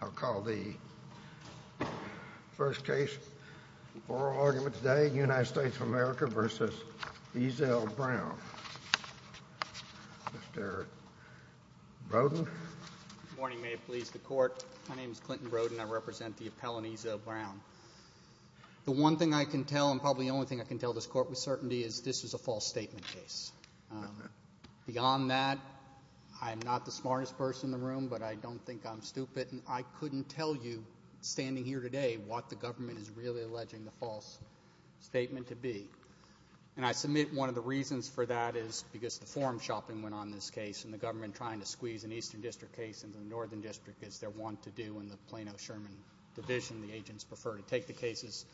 I'll call the first case of oral argument today, United States of America v. Ezell Brown. Mr. Brodin. Good morning. May it please the Court. My name is Clinton Brodin. I represent the appellant Ezell Brown. The one thing I can tell, and probably the only thing I can tell this Court with certainty, is this is a false statement case. Beyond that, I'm not the smartest person in the room, but I don't think I'm stupid, and I couldn't tell you, standing here today, what the government is really alleging the false statement to be. And I submit one of the reasons for that is because the forum shopping went on in this case and the government trying to squeeze an Eastern District case into the Northern District, as they want to do in the Plano-Sherman division. The agents prefer to take the cases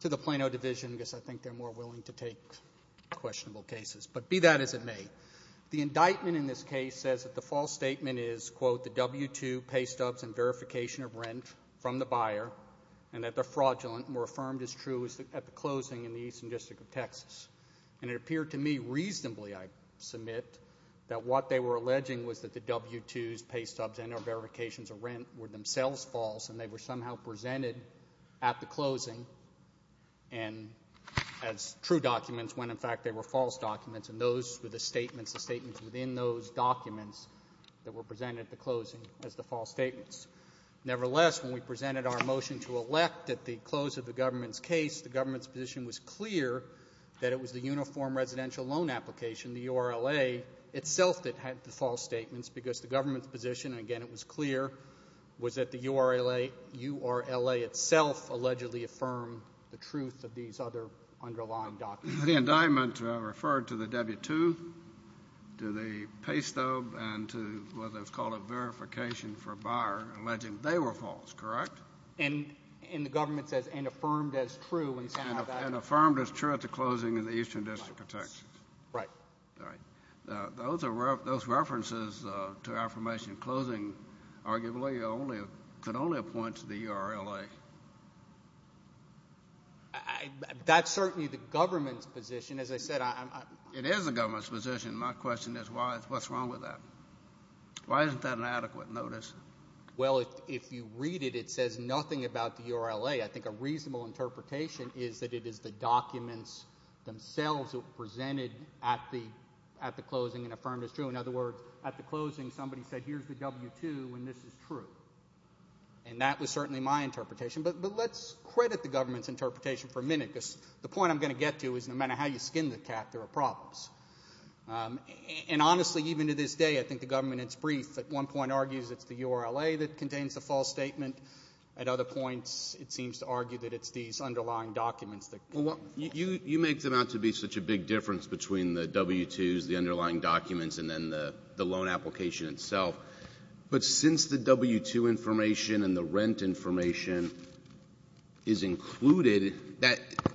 to the Plano division because I think they're more willing to take questionable cases. But be that as it may, the indictment in this case says that the false statement is, quote, the W-2 pay stubs and verification of rent from the buyer, and that they're fraudulent and were affirmed as true at the closing in the Eastern District of Texas. And it appeared to me reasonably, I submit, that what they were alleging was that the W-2s, pay stubs, and their verifications of rent were themselves false, and they were somehow presented at the closing as true documents when, in fact, they were false documents, and those were the statements, the statements within those documents that were presented at the closing as the false statements. Nevertheless, when we presented our motion to elect at the close of the government's case, the government's position was clear that it was the uniform residential loan application, the URLA, itself that had the false statements because the government's position, and again it was clear, was that the URLA itself allegedly affirmed the truth of these other underlying documents. The indictment referred to the W-2, to the pay stub, and to what was called a verification for a buyer, alleging they were false, correct? And the government says, and affirmed as true. And affirmed as true at the closing in the Eastern District of Texas. Right. Right. Those references to affirmation closing arguably could only have pointed to the URLA. That's certainly the government's position. As I said, I'm not. It is the government's position. My question is what's wrong with that? Why isn't that an adequate notice? Well, if you read it, it says nothing about the URLA. I think a reasonable interpretation is that it is the documents themselves that were presented at the closing and affirmed as true. In other words, at the closing somebody said here's the W-2 and this is true. And that was certainly my interpretation. But let's credit the government's interpretation for a minute because the point I'm going to get to is no matter how you skin the cat, there are problems. And honestly, even to this day, I think the government, it's brief. At one point argues it's the URLA that contains the false statement. At other points, it seems to argue that it's these underlying documents that go with that. You make them out to be such a big difference between the W-2s, the underlying documents, and then the loan application itself. But since the W-2 information and the rent information is included,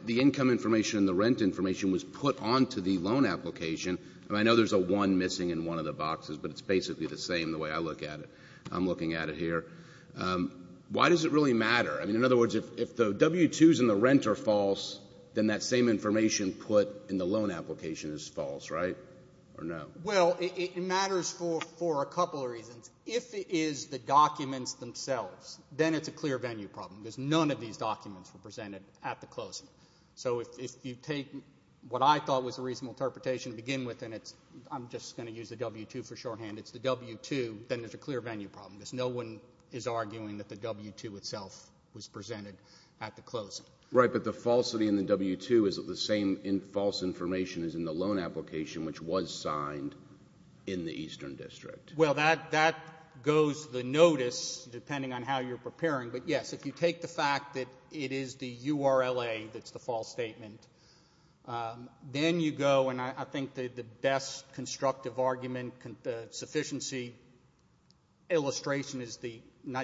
the income information and the rent information was put onto the loan application. I know there's a 1 missing in one of the boxes, but it's basically the same the way I look at it. I'm looking at it here. Why does it really matter? I mean, in other words, if the W-2s and the rent are false, then that same information put in the loan application is false, right, or no? Well, it matters for a couple of reasons. If it is the documents themselves, then it's a clear venue problem because none of these documents were presented at the closing. So if you take what I thought was a reasonable interpretation to begin with and it's I'm just going to use the W-2 for shorthand, it's the W-2, then it's a clear venue problem because no one is arguing that the W-2 itself was presented at the closing. Right, but the falsity in the W-2 is that the same false information is in the loan application, which was signed in the Eastern District. Well, that goes to the notice depending on how you're preparing. But, yes, if you take the fact that it is the URLA that's the false statement, then you go, and I think the best constructive argument, the sufficiency illustration is the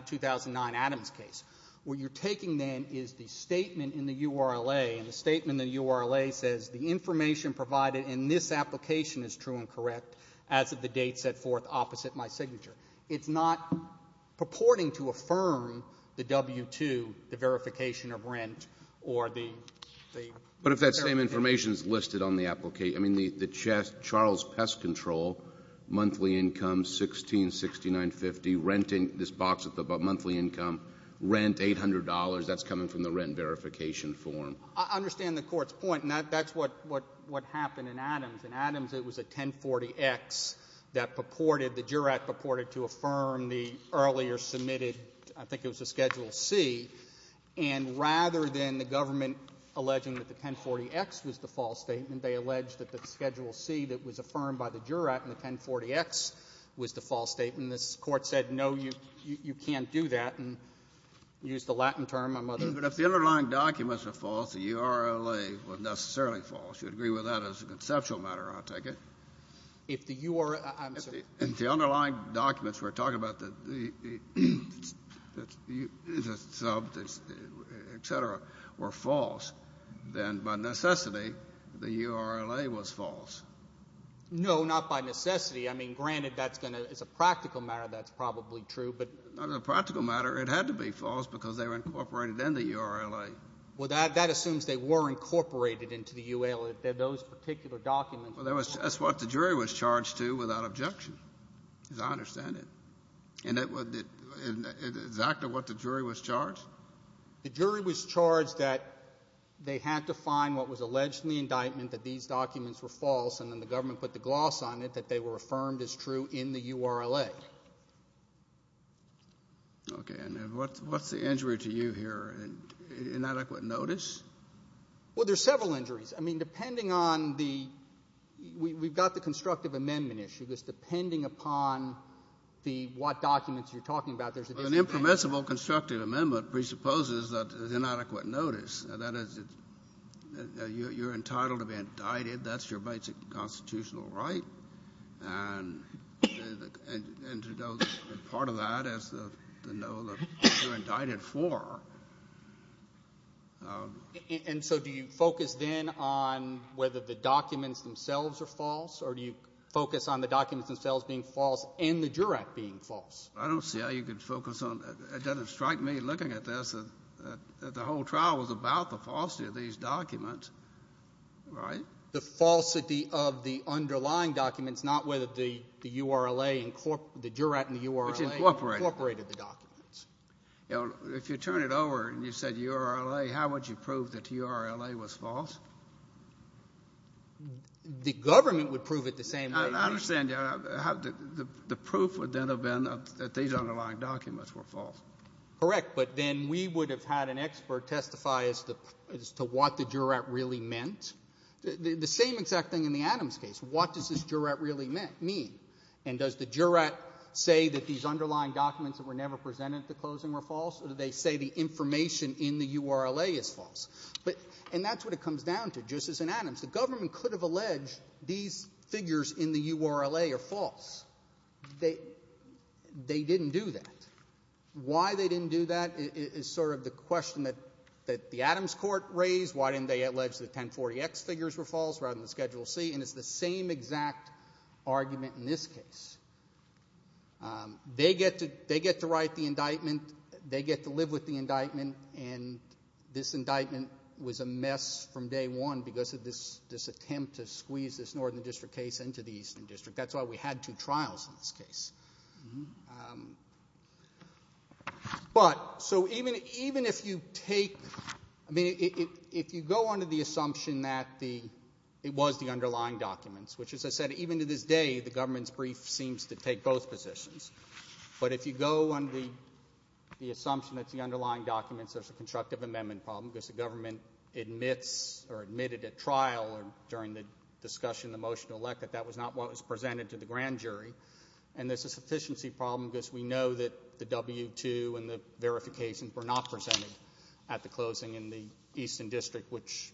2009 Adams case. What you're taking, then, is the statement in the URLA, and the statement in the URLA says the information provided in this application is true and correct as of the date set forth opposite my signature. It's not purporting to affirm the W-2, the verification of rent, or the... But if that same information is listed on the application, I mean, the Charles Pest Control, monthly income, $16,6950, renting this box of monthly income, rent, $800, that's coming from the rent verification form. I understand the Court's point, and that's what happened in Adams. In Adams, it was a 1040X that purported, the juror purported to affirm the earlier submitted, I think it was a Schedule C, and rather than the government alleging that the 1040X was the false statement, they alleged that the Schedule C that was affirmed by the juror at the 1040X was the false statement. This Court said, no, you can't do that, and used the Latin term. I'm not going to... But if the underlying documents are false, the URLA was necessarily false. You would agree with that as a conceptual matter, I'll take it. If the UR... I'm sorry. If the underlying documents we're talking about, the sub, et cetera, were false, then by necessity, the URLA was false. No, not by necessity. I mean, granted, that's going to, as a practical matter, that's probably true, but... As a practical matter, it had to be false because they were incorporated in the URLA. Well, that assumes they were incorporated into the UL, those particular documents. Well, that's what the jury was charged to without objection, as I understand it. And exactly what the jury was charged? The jury was charged that they had to find what was allegedly indictment, that these documents were false, and then the government put the gloss on it, that they were affirmed as true in the URLA. Okay. And what's the injury to you here? Inadequate notice? Well, there's several injuries. I mean, depending on the ‑‑ we've got the constructive amendment issue, because depending upon what documents you're talking about, there's a disadvantage. An impermissible constructive amendment presupposes that there's inadequate notice. That is, you're entitled to be indicted. That's your basic constitutional right. And part of that is to know what you're indicted for. And so do you focus then on whether the documents themselves are false, or do you focus on the documents themselves being false and the jurat being false? I don't see how you could focus on that. It doesn't strike me, looking at this, that the whole trial was about the falsity of these documents, right? The falsity of the underlying documents, If you turn it over and you said URLA, how would you prove that URLA was false? The government would prove it the same way. I understand. The proof would then have been that these underlying documents were false. Correct. But then we would have had an expert testify as to what the jurat really meant. The same exact thing in the Adams case. What does this jurat really mean? And does the jurat say that these underlying documents that were never presented at the closing were false, or do they say the information in the URLA is false? And that's what it comes down to, just as in Adams. The government could have alleged these figures in the URLA are false. They didn't do that. Why they didn't do that is sort of the question that the Adams court raised. Why didn't they allege the 1040X figures were false rather than the Schedule C? And it's the same exact argument in this case. They get to write the indictment. They get to live with the indictment, and this indictment was a mess from day one because of this attempt to squeeze this northern district case into the eastern district. That's why we had two trials in this case. But so even if you take, I mean, if you go under the assumption that it was the underlying documents, which, as I said, even to this day the government's brief seems to take both positions, but if you go under the assumption that it's the underlying documents, there's a constructive amendment problem because the government admits or admitted at trial or during the discussion, the motion to elect, that that was not what was presented to the grand jury, and there's a sufficiency problem because we know that the W-2 and the verifications were not presented at the closing in the eastern district, which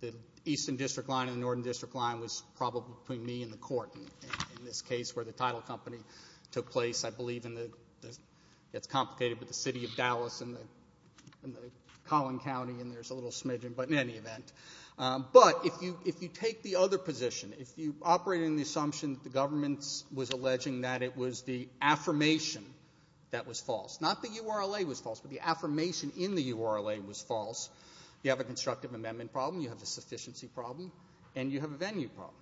the eastern district line and the northern district line was probably between me and the court in this case where the title company took place. I believe it's complicated with the city of Dallas and the Collin County, and there's a little smidgen, but in any event. But if you take the other position, if you operate under the assumption that the government was alleging that it was the affirmation that was false, not the URLA was false, but the affirmation in the URLA was false, you have a constructive amendment problem, you have a sufficiency problem, and you have a venue problem.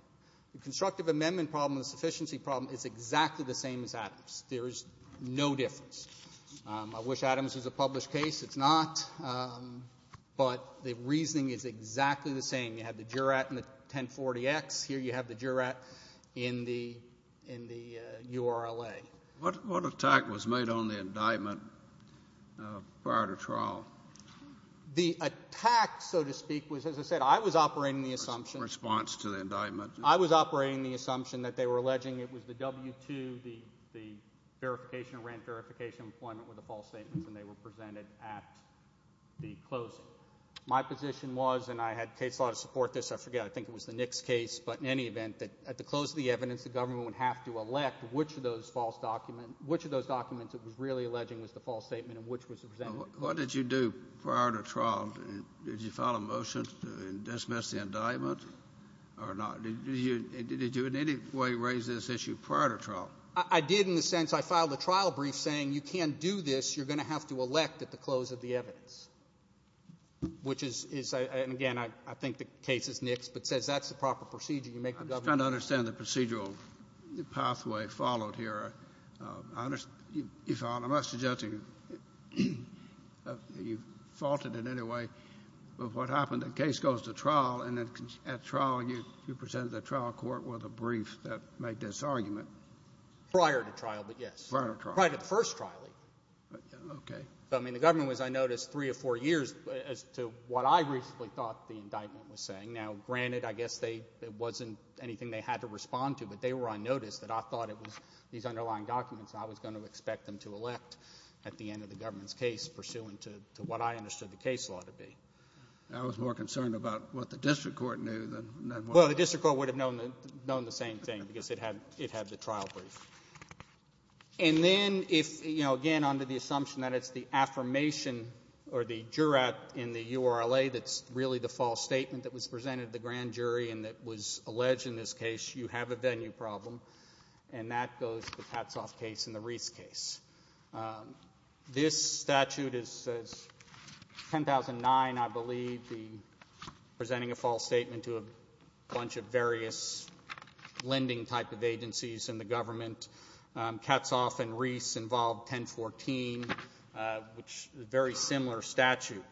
The constructive amendment problem and the sufficiency problem is exactly the same as Adams. There is no difference. I wish Adams was a published case. It's not, but the reasoning is exactly the same. You have the jurat in the 1040X. Here you have the jurat in the URLA. What attack was made on the indictment prior to trial? The attack, so to speak, was, as I said, I was operating the assumption. Response to the indictment. I was operating the assumption that they were alleging it was the W-2, the verification of rent, verification of employment were the false statements, and they were presented at the closing. So my position was, and I had a case law to support this, I forget, I think it was the Nix case, but in any event, that at the close of the evidence the government would have to elect which of those documents it was really alleging was the false statement and which was the presented one. What did you do prior to trial? Did you file a motion to dismiss the indictment or not? Did you in any way raise this issue prior to trial? I did in the sense I filed a trial brief saying you can't do this, you're going to have to elect at the close of the evidence, which is, and again, I think the case is Nix, but it says that's the proper procedure. You make the government do it. I'm just trying to understand the procedural pathway followed here. I must suggest you faulted in any way of what happened. The case goes to trial, and at trial you presented the trial court with a brief that made this argument. Prior to trial, but yes. Prior to trial. Okay. The government was, I noticed, three or four years as to what I recently thought the indictment was saying. Now, granted, I guess it wasn't anything they had to respond to, but they were on notice that I thought it was these underlying documents I was going to expect them to elect at the end of the government's case pursuant to what I understood the case law to be. I was more concerned about what the district court knew than what I was. Well, the district court would have known the same thing because it had the trial brief. And then, again, under the assumption that it's the affirmation or the juror in the URLA that's really the false statement that was presented to the grand jury and that was alleged in this case, you have a venue problem, and that goes to the Patsoff case and the Reese case. This statute is 10,009, I believe, presenting a false statement to a bunch of various lending type of agencies in the government. Katzoff and Reese involved 1014, which is a very similar statute.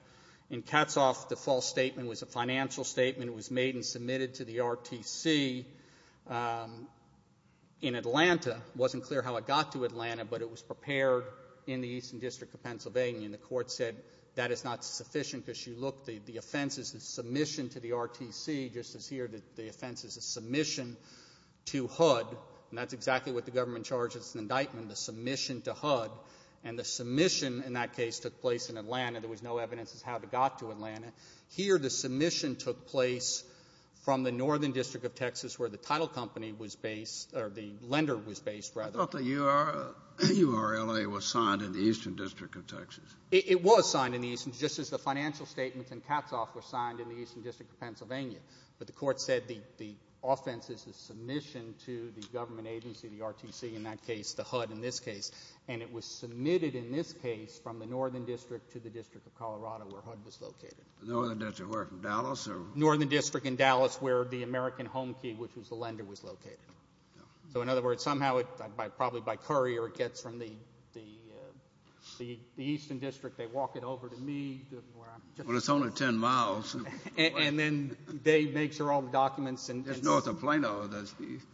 In Katzoff, the false statement was a financial statement. It was made and submitted to the RTC in Atlanta. It wasn't clear how it got to Atlanta, but it was prepared in the Eastern District of Pennsylvania, and the court said that is not sufficient because, you look, the offense is the submission to the RTC, just as here, the offense is a submission to HUD, and that's exactly what the government charges in indictment, the submission to HUD. And the submission in that case took place in Atlanta. There was no evidence as to how it got to Atlanta. Here the submission took place from the Northern District of Texas where the title company was based, or the lender was based, rather. I thought the URLA was signed in the Eastern District of Texas. It was signed in the Eastern, just as the financial statements in Katzoff were signed in the Eastern District of Pennsylvania, but the court said the offense is the submission to the government agency, the RTC in that case, the HUD in this case, and it was submitted in this case from the Northern District to the District of Colorado where HUD was located. The Northern District, where, from Dallas? The Northern District in Dallas where the American Home Key, which was the lender, was located. So in other words, somehow, probably by courier, it gets from the Eastern District. They walk it over to me. Well, it's only 10 miles. And then they make sure all the documents and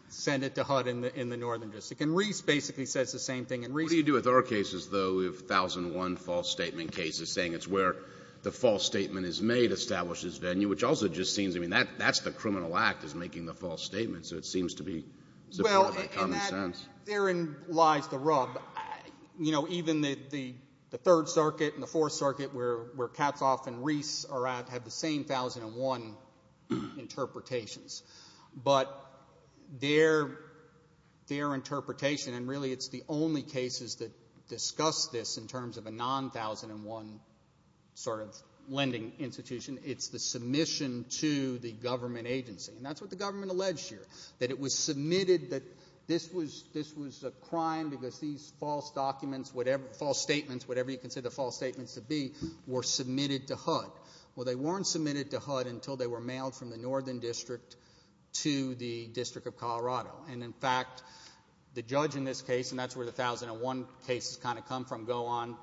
send it to HUD in the Northern District. And Reese basically says the same thing. What do you do with our cases, though? We have 1,001 false statement cases, saying it's where the false statement is made establishes venue, which also just seems, I mean, that's the criminal act, is making the false statement, so it seems to be supported by common sense. Therein lies the rub. You know, even the Third Circuit and the Fourth Circuit, where Katzhoff and Reese are at, have the same 1,001 interpretations. But their interpretation, and really it's the only cases that discuss this in terms of a non-1,001 sort of lending institution, it's the submission to the government agency. And that's what the government alleged here, that it was submitted that this was a crime because these false documents, false statements, whatever you consider false statements to be, were submitted to HUD. Well, they weren't submitted to HUD until they were mailed from the Northern District to the District of Colorado. And, in fact, the judge in this case, and that's where the 1,001 cases kind of come from, go on,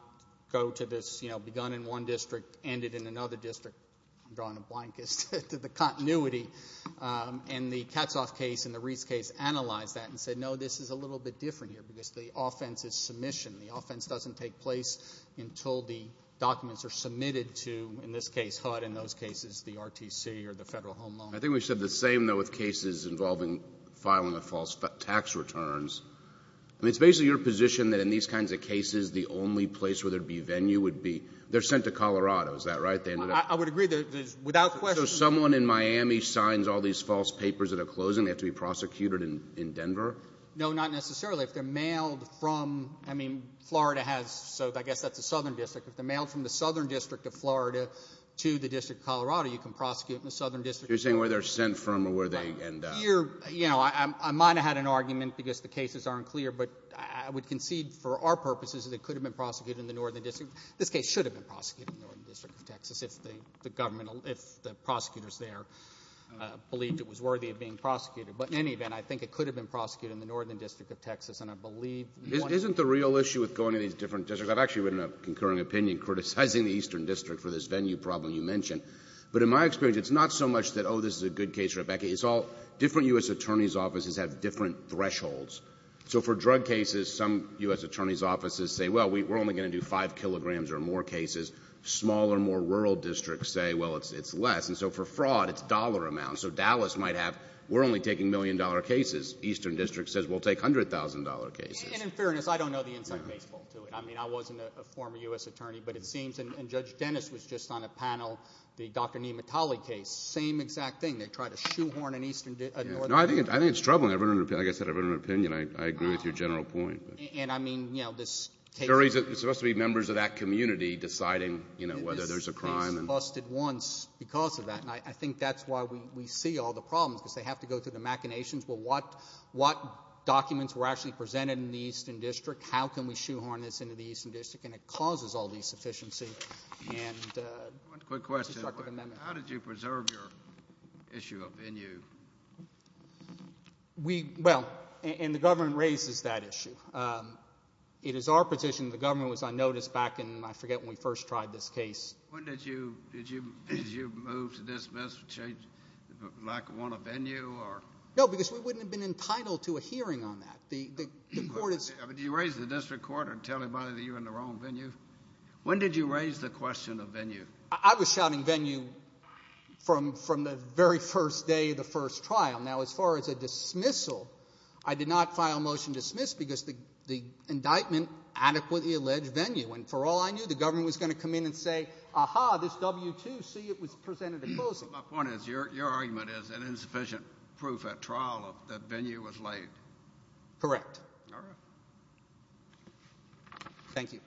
go to this, you know, begun in one district, ended in another district. I'm drawing a blank as to the continuity. And the Katzhoff case and the Reese case analyzed that and said, no, this is a little bit different here because the offense is submission. The offense doesn't take place until the documents are submitted to, in this case, HUD, in those cases, the RTC or the Federal Home Loan. I think we said the same, though, with cases involving filing of false tax returns. I mean, it's basically your position that in these kinds of cases, the only place where there would be a venue would be they're sent to Colorado. Is that right? I would agree. So someone in Miami signs all these false papers that are closing, they have to be prosecuted in Denver? No, not necessarily. If they're mailed from, I mean, Florida has, so I guess that's the Southern District. If they're mailed from the Southern District of Florida to the District of Colorado, you can prosecute in the Southern District. You're saying where they're sent from or where they end up. I might have had an argument because the cases aren't clear, but I would concede, for our purposes, that they could have been prosecuted in the Northern District. This case should have been prosecuted in the Northern District of Texas if the government, if the prosecutors there believed it was worthy of being prosecuted. But in any event, I think it could have been prosecuted in the Northern District of Texas, and I believe one of the— Isn't the real issue with going to these different districts, I've actually written a concurring opinion criticizing the Eastern District for this venue problem you mentioned. But in my experience, it's not so much that, oh, this is a good case, Rebecca. It's all different U.S. attorneys' offices have different thresholds. So for drug cases, some U.S. attorneys' offices say, well, we're only going to do 5 kilograms or more cases. Smaller, more rural districts say, well, it's less. And so for fraud, it's dollar amounts. So Dallas might have, we're only taking million-dollar cases. Eastern District says we'll take $100,000 cases. And in fairness, I don't know the inside baseball to it. I mean, I wasn't a former U.S. attorney, but it seems— and Judge Dennis was just on a panel, the Dr. Nematali case, same exact thing. They tried to shoehorn an Eastern— No, I think it's troubling. Like I said, I've written an opinion. I agree with your general point. And, I mean, you know, this case— There's supposed to be members of that community deciding, you know, whether there's a crime. This case busted once because of that, and I think that's why we see all the problems, because they have to go through the machinations. Well, what documents were actually presented in the Eastern District? How can we shoehorn this into the Eastern District? And it causes all these sufficiency and destructive amendments. One quick question. How did you preserve your issue of venue? We—well, and the government raises that issue. It is our position that the government was unnoticed back in— I forget when we first tried this case. When did you move to dismiss, change—like want a venue or— No, because we wouldn't have been entitled to a hearing on that. The court is— Did you raise it to the district court or tell anybody that you were in the wrong venue? When did you raise the question of venue? I was shouting venue from the very first day of the first trial. Now, as far as a dismissal, I did not file a motion to dismiss because the indictment adequately alleged venue. And for all I knew, the government was going to come in and say, ah-ha, this W-2, see, it was presented opposing. My point is your argument is an insufficient proof at trial that venue was laid. Correct. All right. Thank you.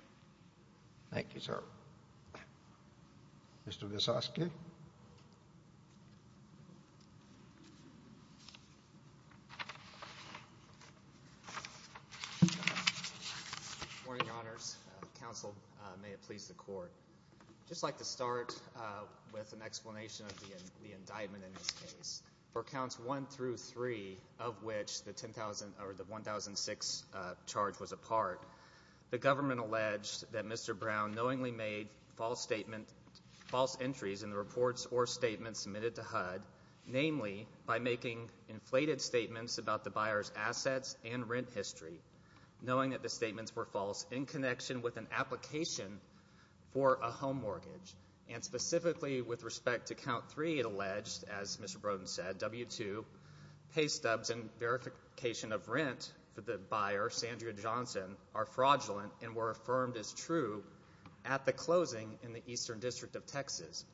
Thank you, sir. Mr. Visosky. Good morning, Your Honors. Counsel, may it please the Court. I'd just like to start with an explanation of the indictment in this case. For counts 1 through 3, of which the 1,006 charge was a part, the government alleged that Mr. Brown knowingly made false entries in the reports or statements submitted to HUD, namely by making inflated statements about the buyer's assets and rent history, knowing that the statements were false in connection with an application for a home mortgage. And specifically with respect to count 3, it alleged, as Mr. Broden said, that W-2 pay stubs and verification of rent for the buyer, Sandra Johnson, are fraudulent and were affirmed as true at the closing in the Eastern District of Texas.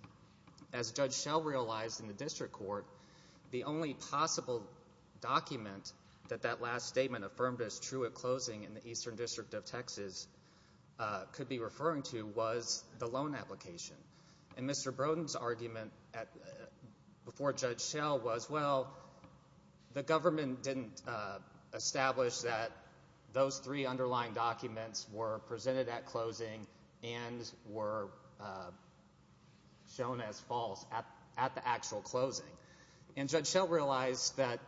As Judge Schell realized in the district court, the only possible document that that last statement affirmed as true at closing in the Eastern District of Texas could be referring to was the loan application. And Mr. Broden's argument before Judge Schell was, well, the government didn't establish that those three underlying documents were presented at closing and were shown as false at the actual closing. And Judge Schell realized that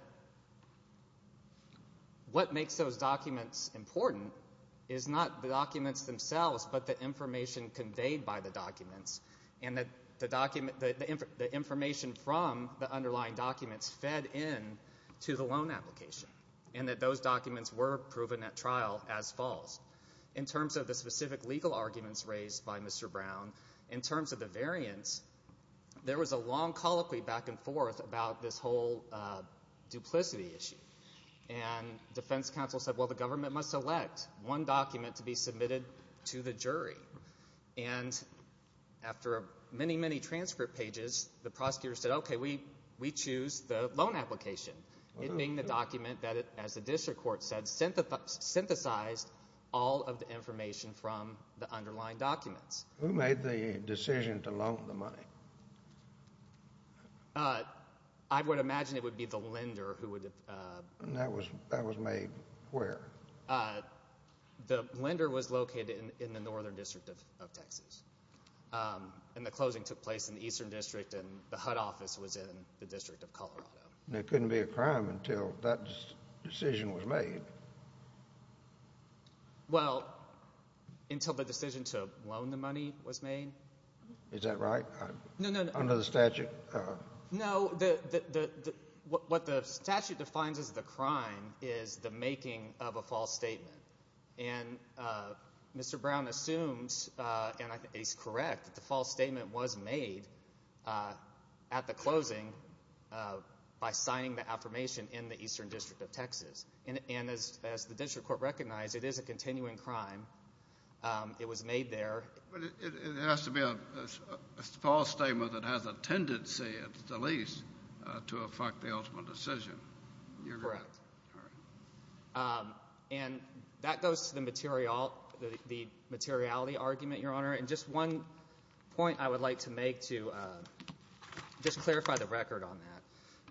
what makes those documents important is not the documents themselves but the information conveyed by the documents and that the information from the underlying documents fed into the loan application and that those documents were proven at trial as false. In terms of the specific legal arguments raised by Mr. Brown, in terms of the variance, there was a long colloquy back and forth about this whole duplicity issue. And defense counsel said, well, the government must select one document to be submitted to the jury. And after many, many transfer pages, the prosecutor said, okay, we choose the loan application, meaning the document that, as the district court said, synthesized all of the information from the underlying documents. Who made the decision to loan the money? I would imagine it would be the lender who would have— That was made where? The lender was located in the northern district of Texas. And the closing took place in the eastern district, and the HUD office was in the district of Colorado. There couldn't be a crime until that decision was made. Well, until the decision to loan the money was made. Is that right? No, no, no. Under the statute? No, what the statute defines as the crime is the making of a false statement. And Mr. Brown assumes, and I think he's correct, that the false statement was made at the closing by signing the affirmation in the eastern district of Texas. And as the district court recognized, it is a continuing crime. It was made there. But it has to be a false statement that has a tendency, at the least, to affect the ultimate decision. Correct. And that goes to the materiality argument, Your Honor. And just one point I would like to make to just clarify the record on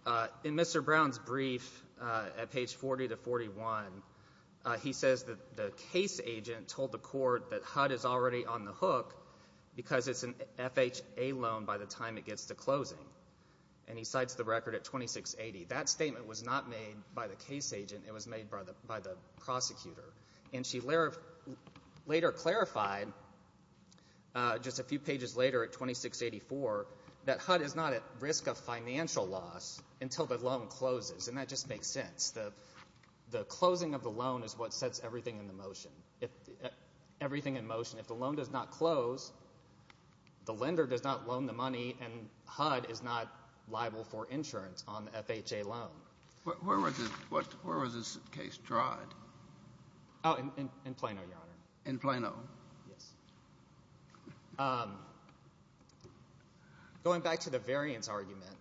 that. In Mr. Brown's brief at page 40 to 41, he says that the case agent told the court that HUD is already on the hook because it's an FHA loan by the time it gets to closing. And he cites the record at 2680. That statement was not made by the case agent. It was made by the prosecutor. And she later clarified, just a few pages later at 2684, that HUD is not at risk of financial loss until the loan closes. And that just makes sense. The closing of the loan is what sets everything in motion. Everything in motion. If the loan does not close, the lender does not loan the money, and HUD is not liable for insurance on the FHA loan. Where was this case tried? In Plano, Your Honor. In Plano? Yes. Going back to the variance argument,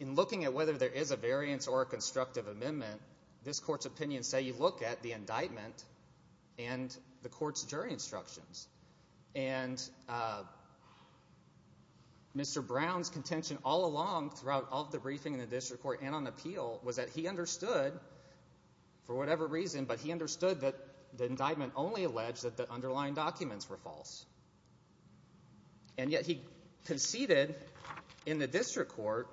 in looking at whether there is a variance or a constructive amendment, this Court's opinions say you look at the indictment and the Court's jury instructions. And Mr. Brown's contention all along throughout all of the briefing in the district court and on appeal was that he understood, for whatever reason, but he understood that the indictment only alleged that the underlying documents were false. And yet he conceded in the district court.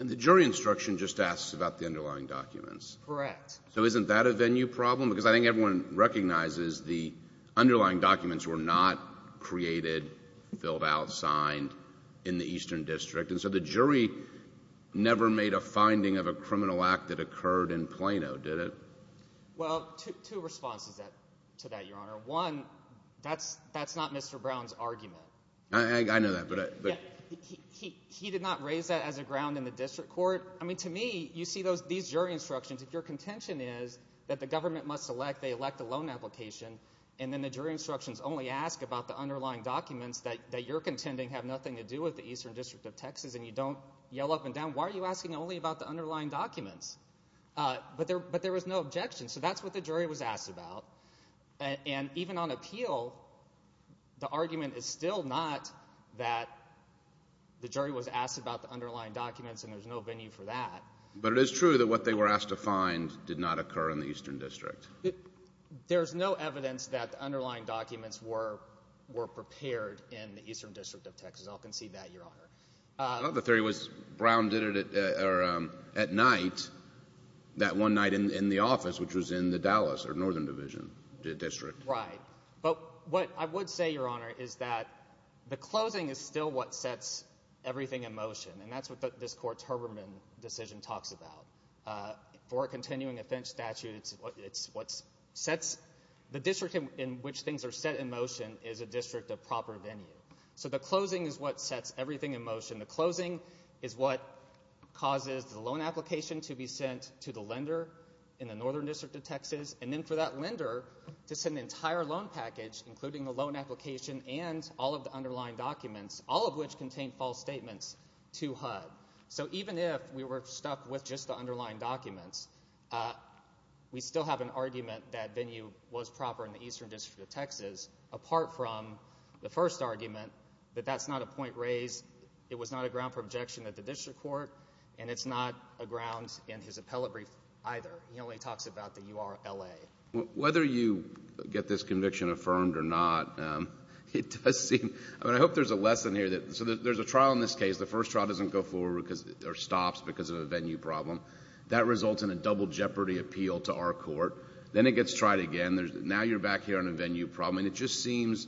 And the jury instruction just asks about the underlying documents. Correct. So isn't that a venue problem? Because I think everyone recognizes the underlying documents were not created, filled out, signed in the Eastern District. And so the jury never made a finding of a criminal act that occurred in Plano, did it? Well, two responses to that, Your Honor. One, that's not Mr. Brown's argument. I know that. He did not raise that as a ground in the district court. I mean, to me, you see these jury instructions. If your contention is that the government must elect, they elect a loan application, and then the jury instructions only ask about the underlying documents that you're contending have nothing to do with the Eastern District of Texas and you don't yell up and down, why are you asking only about the underlying documents? But there was no objection. So that's what the jury was asked about. And even on appeal, the argument is still not that the jury was asked about the underlying documents and there's no venue for that. But it is true that what they were asked to find did not occur in the Eastern District. There's no evidence that the underlying documents were prepared in the Eastern District of Texas. I'll concede that, Your Honor. Another theory was Brown did it at night, that one night in the office, which was in the Dallas or Northern Division district. Right. But what I would say, Your Honor, is that the closing is still what sets everything in motion, and that's what this Court's Herbermann decision talks about. For a continuing offense statute, it's what sets the district in which things are set in motion is a district of proper venue. So the closing is what sets everything in motion. The closing is what causes the loan application to be sent to the lender in the Northern District of Texas, and then for that lender to send the entire loan package, including the loan application and all of the underlying documents, all of which contain false statements, to HUD. So even if we were stuck with just the underlying documents, we still have an argument that venue was proper in the Eastern District of Texas, apart from the first argument that that's not a point raised, it was not a ground for objection at the district court, and it's not a ground in his appellate brief either. He only talks about the U.R.L.A. Whether you get this conviction affirmed or not, it does seem, I mean, I hope there's a lesson here. So there's a trial in this case. The first trial doesn't go forward or stops because of a venue problem. That results in a double jeopardy appeal to our court. Then it gets tried again. Now you're back here on a venue problem, and it just seems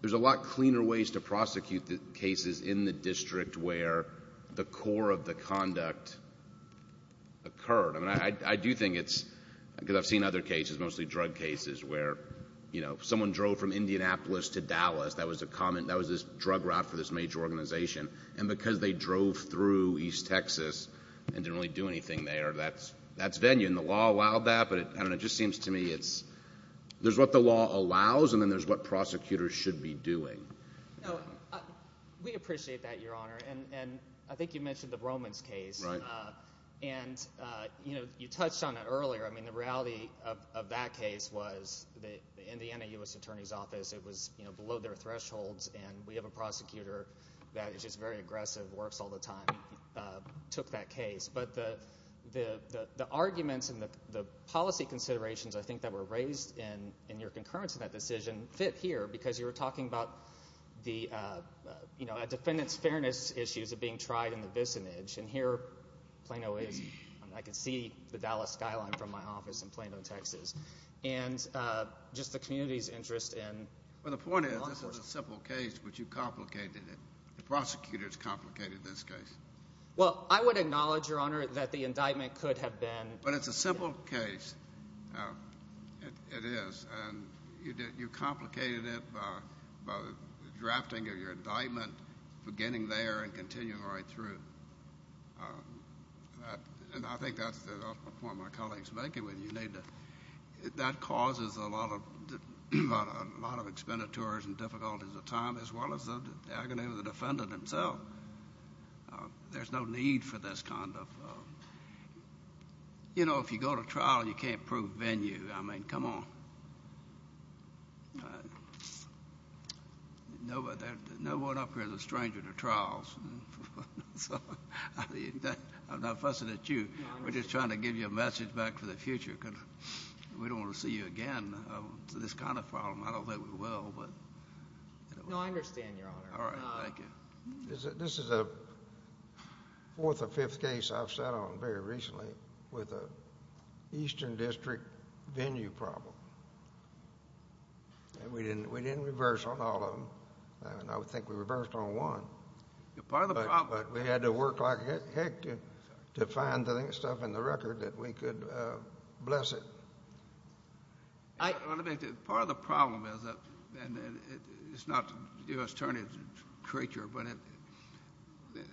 there's a lot cleaner ways to prosecute the cases in the district where the core of the conduct occurred. I mean, I do think it's because I've seen other cases, mostly drug cases, where, you know, someone drove from Indianapolis to Dallas. That was this drug route for this major organization, and because they drove through East Texas and didn't really do anything there, that's venue. I mean, the law allowed that, but it just seems to me there's what the law allows and then there's what prosecutors should be doing. No, we appreciate that, Your Honor, and I think you mentioned the Romans case. Right. And, you know, you touched on it earlier. I mean, the reality of that case was in the NAU's attorney's office it was below their thresholds, and we have a prosecutor that is just very aggressive, works all the time, took that case. But the arguments and the policy considerations, I think, that were raised in your concurrence in that decision fit here because you were talking about the, you know, defendants' fairness issues of being tried in the vicinage, and here Plano is. I can see the Dallas skyline from my office in Plano, Texas, and just the community's interest in law enforcement. Well, the point is this was a simple case, but you complicated it. The prosecutors complicated this case. Well, I would acknowledge, Your Honor, that the indictment could have been. But it's a simple case. It is, and you complicated it by the drafting of your indictment, for getting there and continuing right through. And I think that's the point my colleague is making. That causes a lot of expenditures and difficulties of time as well as the agony of the defendant himself. There's no need for this kind of, you know, if you go to trial, you can't prove venue. I mean, come on. No one up here is a stranger to trials. I'm not fussing at you. We're just trying to give you a message back for the future because we don't want to see you again to this kind of problem. I don't think we will, but... No, I understand, Your Honor. All right. Thank you. This is a fourth or fifth case I've sat on very recently with an eastern district venue problem. And we didn't reverse on all of them, and I would think we reversed on one. But we had to work like heck to find the stuff in the record that we could bless it. Part of the problem is that, and it's not the U.S. Attorney's creature, but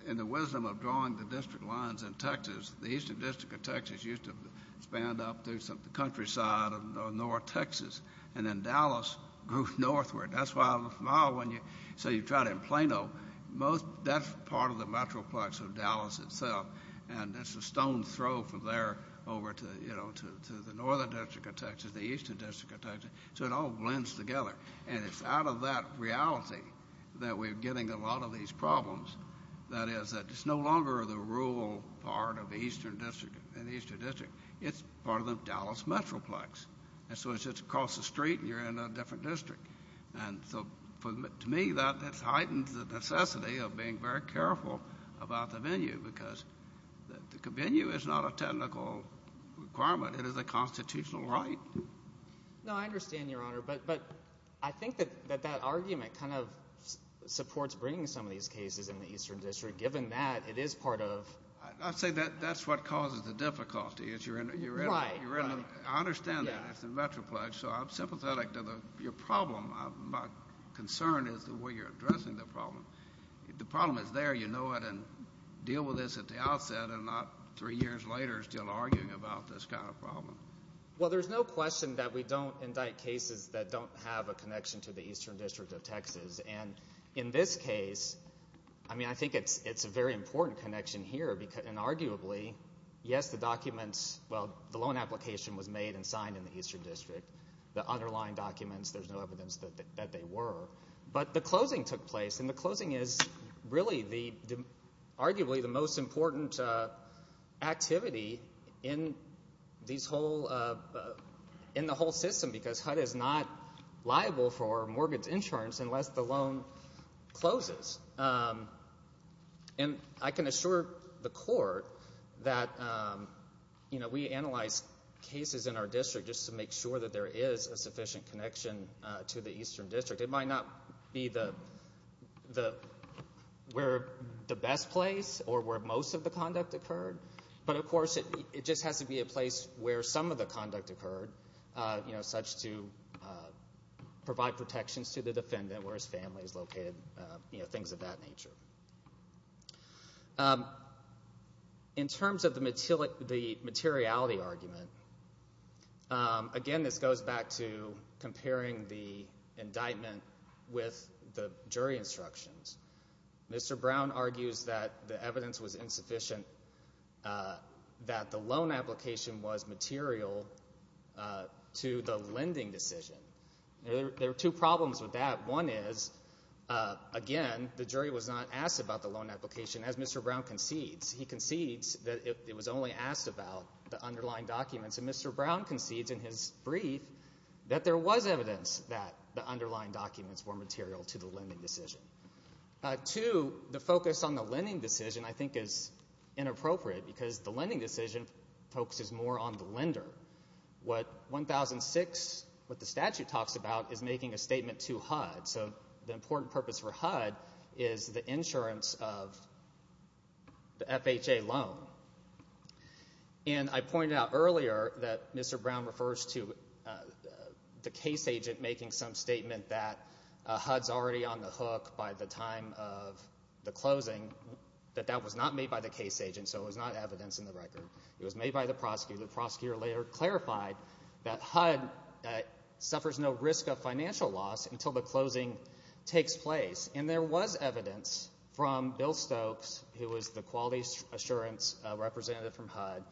in the wisdom of drawing the district lines in Texas, the eastern district of Texas used to span up through the countryside of north Texas, and then Dallas grew northward. That's why I'm smiling when you say you tried it in Plano. That's part of the metroplex of Dallas itself, and it's a stone's throw from there over to the northern district of Texas. The eastern district of Texas. So it all blends together, and it's out of that reality that we're getting a lot of these problems. That is, it's no longer the rural part of the eastern district. It's part of the Dallas metroplex. And so it's just across the street, and you're in a different district. And so, to me, that heightens the necessity of being very careful about the venue because the venue is not a technical requirement. It is a constitutional right. No, I understand, Your Honor. But I think that that argument kind of supports bringing some of these cases in the eastern district, given that it is part of. I say that's what causes the difficulty. I understand that. It's the metroplex. So I'm sympathetic to your problem. My concern is the way you're addressing the problem. If the problem is there, you know it, and deal with this at the outset and not three years later still arguing about this kind of problem. Well, there's no question that we don't indict cases that don't have a connection to the eastern district of Texas. And in this case, I mean, I think it's a very important connection here. And arguably, yes, the documents, well, the loan application was made and signed in the eastern district. The underlying documents, there's no evidence that they were. But the closing took place, and the closing is really arguably the most important activity in the whole system because HUD is not liable for mortgage insurance unless the loan closes. And I can assure the court that, you know, we analyze cases in our district just to make sure that there is a sufficient connection to the eastern district. It might not be the best place or where most of the conduct occurred, but of course it just has to be a place where some of the conduct occurred, you know, such to provide protections to the defendant where his family is located, you know, things of that nature. In terms of the materiality argument, again, this goes back to comparing the indictment with the jury instructions. Mr. Brown argues that the evidence was insufficient, that the loan application was material to the lending decision. There are two problems with that. One is, again, the jury was not asked about the loan application as Mr. Brown concedes. He concedes that it was only asked about the underlying documents, and Mr. Brown concedes in his brief that there was evidence that the underlying documents were material to the lending decision. Two, the focus on the lending decision I think is inappropriate What 1006, what the statute talks about is making a statement to HUD, so the important purpose for HUD is the insurance of the FHA loan. And I pointed out earlier that Mr. Brown refers to the case agent making some statement that HUD's already on the hook by the time of the closing, that that was not made by the case agent, so it was not evidence in the record. It was made by the prosecutor. The prosecutor later clarified that HUD suffers no risk of financial loss until the closing takes place, and there was evidence from Bill Stokes, who was the quality assurance representative from HUD,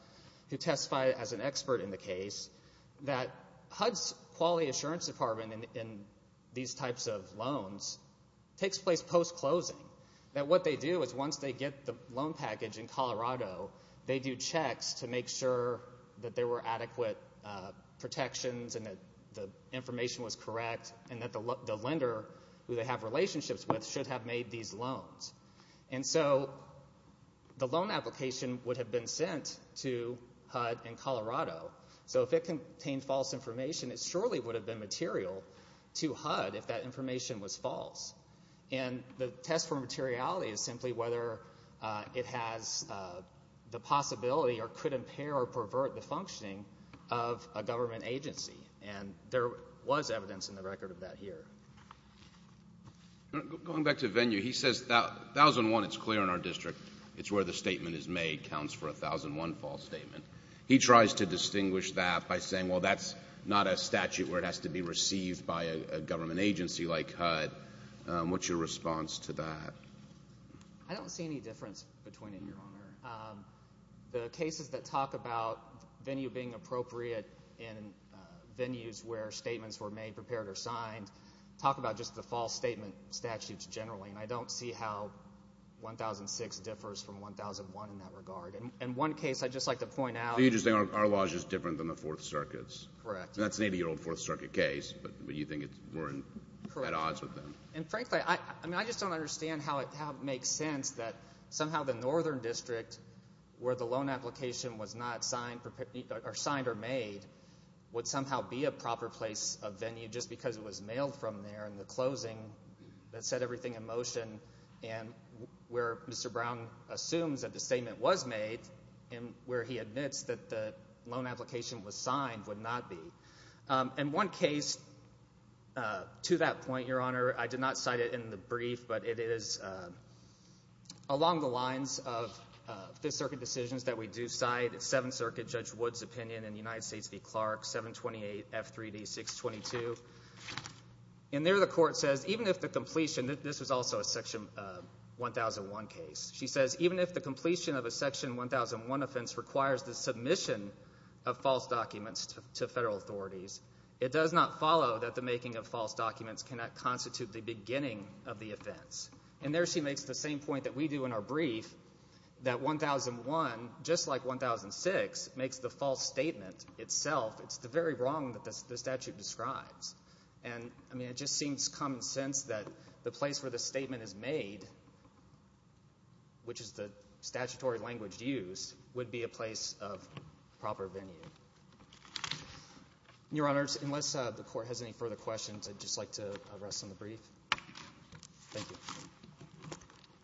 who testified as an expert in the case, that HUD's quality assurance department in these types of loans takes place post-closing, that what they do is once they get the loan package in Colorado, they do checks to make sure that there were adequate protections and that the information was correct and that the lender who they have relationships with should have made these loans. And so the loan application would have been sent to HUD in Colorado, so if it contained false information, it surely would have been material to HUD if that information was false. And the test for materiality is simply whether it has the possibility or could impair or pervert the functioning of a government agency, and there was evidence in the record of that here. Going back to Venue, he says 1001, it's clear in our district, it's where the statement is made counts for a 1001 false statement. He tries to distinguish that by saying, well, that's not a statute where it has to be received by a government agency like HUD. What's your response to that? I don't see any difference between it, Your Honor. The cases that talk about Venue being appropriate in venues where statements were made, prepared, or signed, talk about just the false statement statutes generally, and I don't see how 1006 differs from 1001 in that regard. In one case, I'd just like to point out— So you're just saying our law is just different than the Fourth Circuit's? Correct. That's an 80-year-old Fourth Circuit case, but you think we're at odds with them? And frankly, I just don't understand how it makes sense that somehow the Northern District, where the loan application was not signed or made, would somehow be a proper place of Venue just because it was mailed from there in the closing that set everything in motion, and where Mr. Brown assumes that the statement was made, and where he admits that the loan application was signed, would not be. In one case to that point, Your Honor, I did not cite it in the brief, but it is along the lines of Fifth Circuit decisions that we do cite, Seventh Circuit Judge Wood's opinion in United States v. Clark, 728 F3D 622. And there the court says, even if the completion—this was also a Section 1001 case. She says, even if the completion of a Section 1001 offense requires the submission of false documents to federal authorities, it does not follow that the making of false documents cannot constitute the beginning of the offense. And there she makes the same point that we do in our brief, that 1001, just like 1006, makes the false statement itself. It's the very wrong that the statute describes. And, I mean, it just seems common sense that the place where the statement is made, which is the statutory language used, would be a place of proper venue. Your Honors, unless the court has any further questions, I'd just like to rest on the brief. Thank you.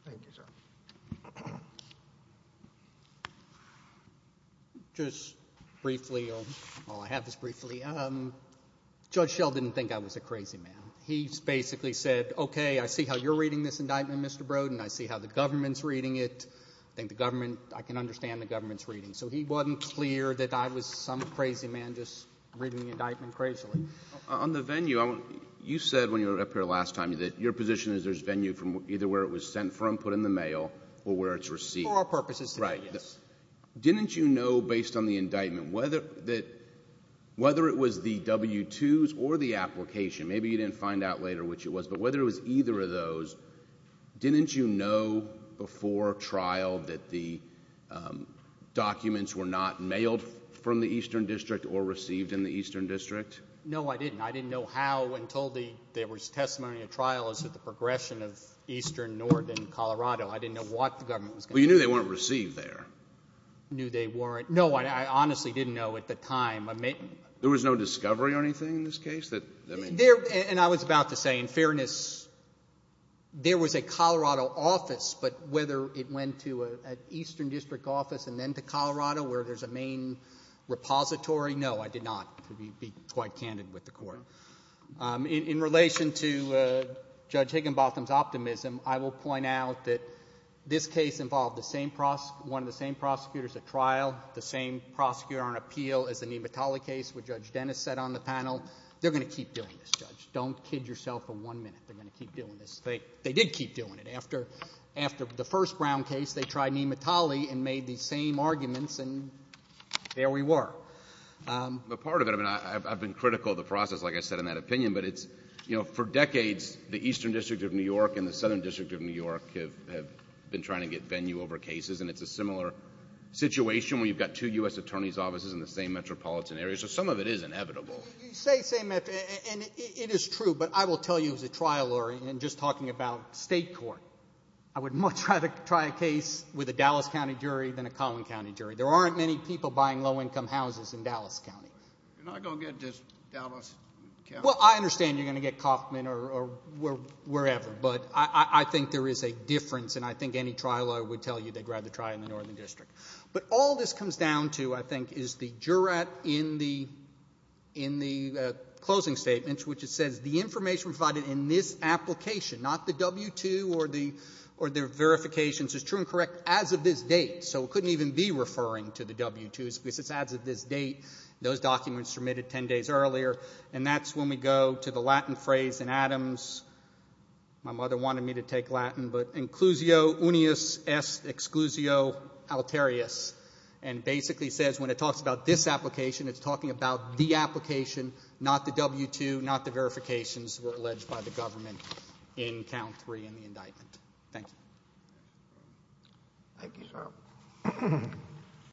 Thank you, sir. Just briefly, I'll have this briefly. Judge Schell didn't think I was a crazy man. He basically said, okay, I see how you're reading this indictment, Mr. Brodin. I see how the government's reading it. I think the government, I can understand the government's reading. So he wasn't clear that I was some crazy man just reading the indictment crazily. On the venue, you said when you were up here last time that your position is there's venue from either where it was sent from, put in the mail, or where it's received. For our purposes today, yes. Didn't you know, based on the indictment, whether it was the W-2s or the application, maybe you didn't find out later which it was, but whether it was either of those, didn't you know before trial that the documents were not mailed from the Eastern District or received in the Eastern District? No, I didn't. I didn't know how until there was testimony at trial as to the progression of eastern, northern Colorado. I didn't know what the government was going to do. Well, you knew they weren't received there. I knew they weren't. No, I honestly didn't know at the time. There was no discovery or anything in this case? And I was about to say, in fairness, there was a Colorado office, but whether it went to an Eastern District office and then to Colorado where there's a main repository, no, I did not. I have to be quite candid with the Court. In relation to Judge Higginbotham's optimism, I will point out that this case involved one of the same prosecutors at trial, the same prosecutor on appeal as the Nematale case which Judge Dennis set on the panel. They're going to keep doing this, Judge. Don't kid yourself for one minute. They're going to keep doing this. They did keep doing it. After the first Brown case, they tried Nematale and made these same arguments, and there we were. But part of it, I mean, I've been critical of the process, like I said, in that opinion, but it's, you know, for decades the Eastern District of New York and the Southern District of New York have been trying to get venue over cases, and it's a similar situation where you've got two U.S. attorneys' offices in the same metropolitan area. So some of it is inevitable. You say same metropolitan, and it is true, but I will tell you as a trial lawyer, and just talking about State court, I would much rather try a case with a Dallas County jury than a Collin County jury. There aren't many people buying low-income houses in Dallas County. You're not going to get just Dallas County. Well, I understand you're going to get Kauffman or wherever, but I think there is a difference, and I think any trial lawyer would tell you they'd rather try in the Northern District. But all this comes down to, I think, is the jurat in the closing statements, which it says the information provided in this application, not the W-2 or the verifications, is true and correct as of this date. So it couldn't even be referring to the W-2s because it's as of this date. Those documents were submitted 10 days earlier, and that's when we go to the Latin phrase in Adams. My mother wanted me to take Latin, but inclusio unius est exclusio alterius, and basically says when it talks about this application, it's talking about the application, not the W-2, not the verifications were alleged by the government in count three in the indictment. Thank you. Thank you, sir.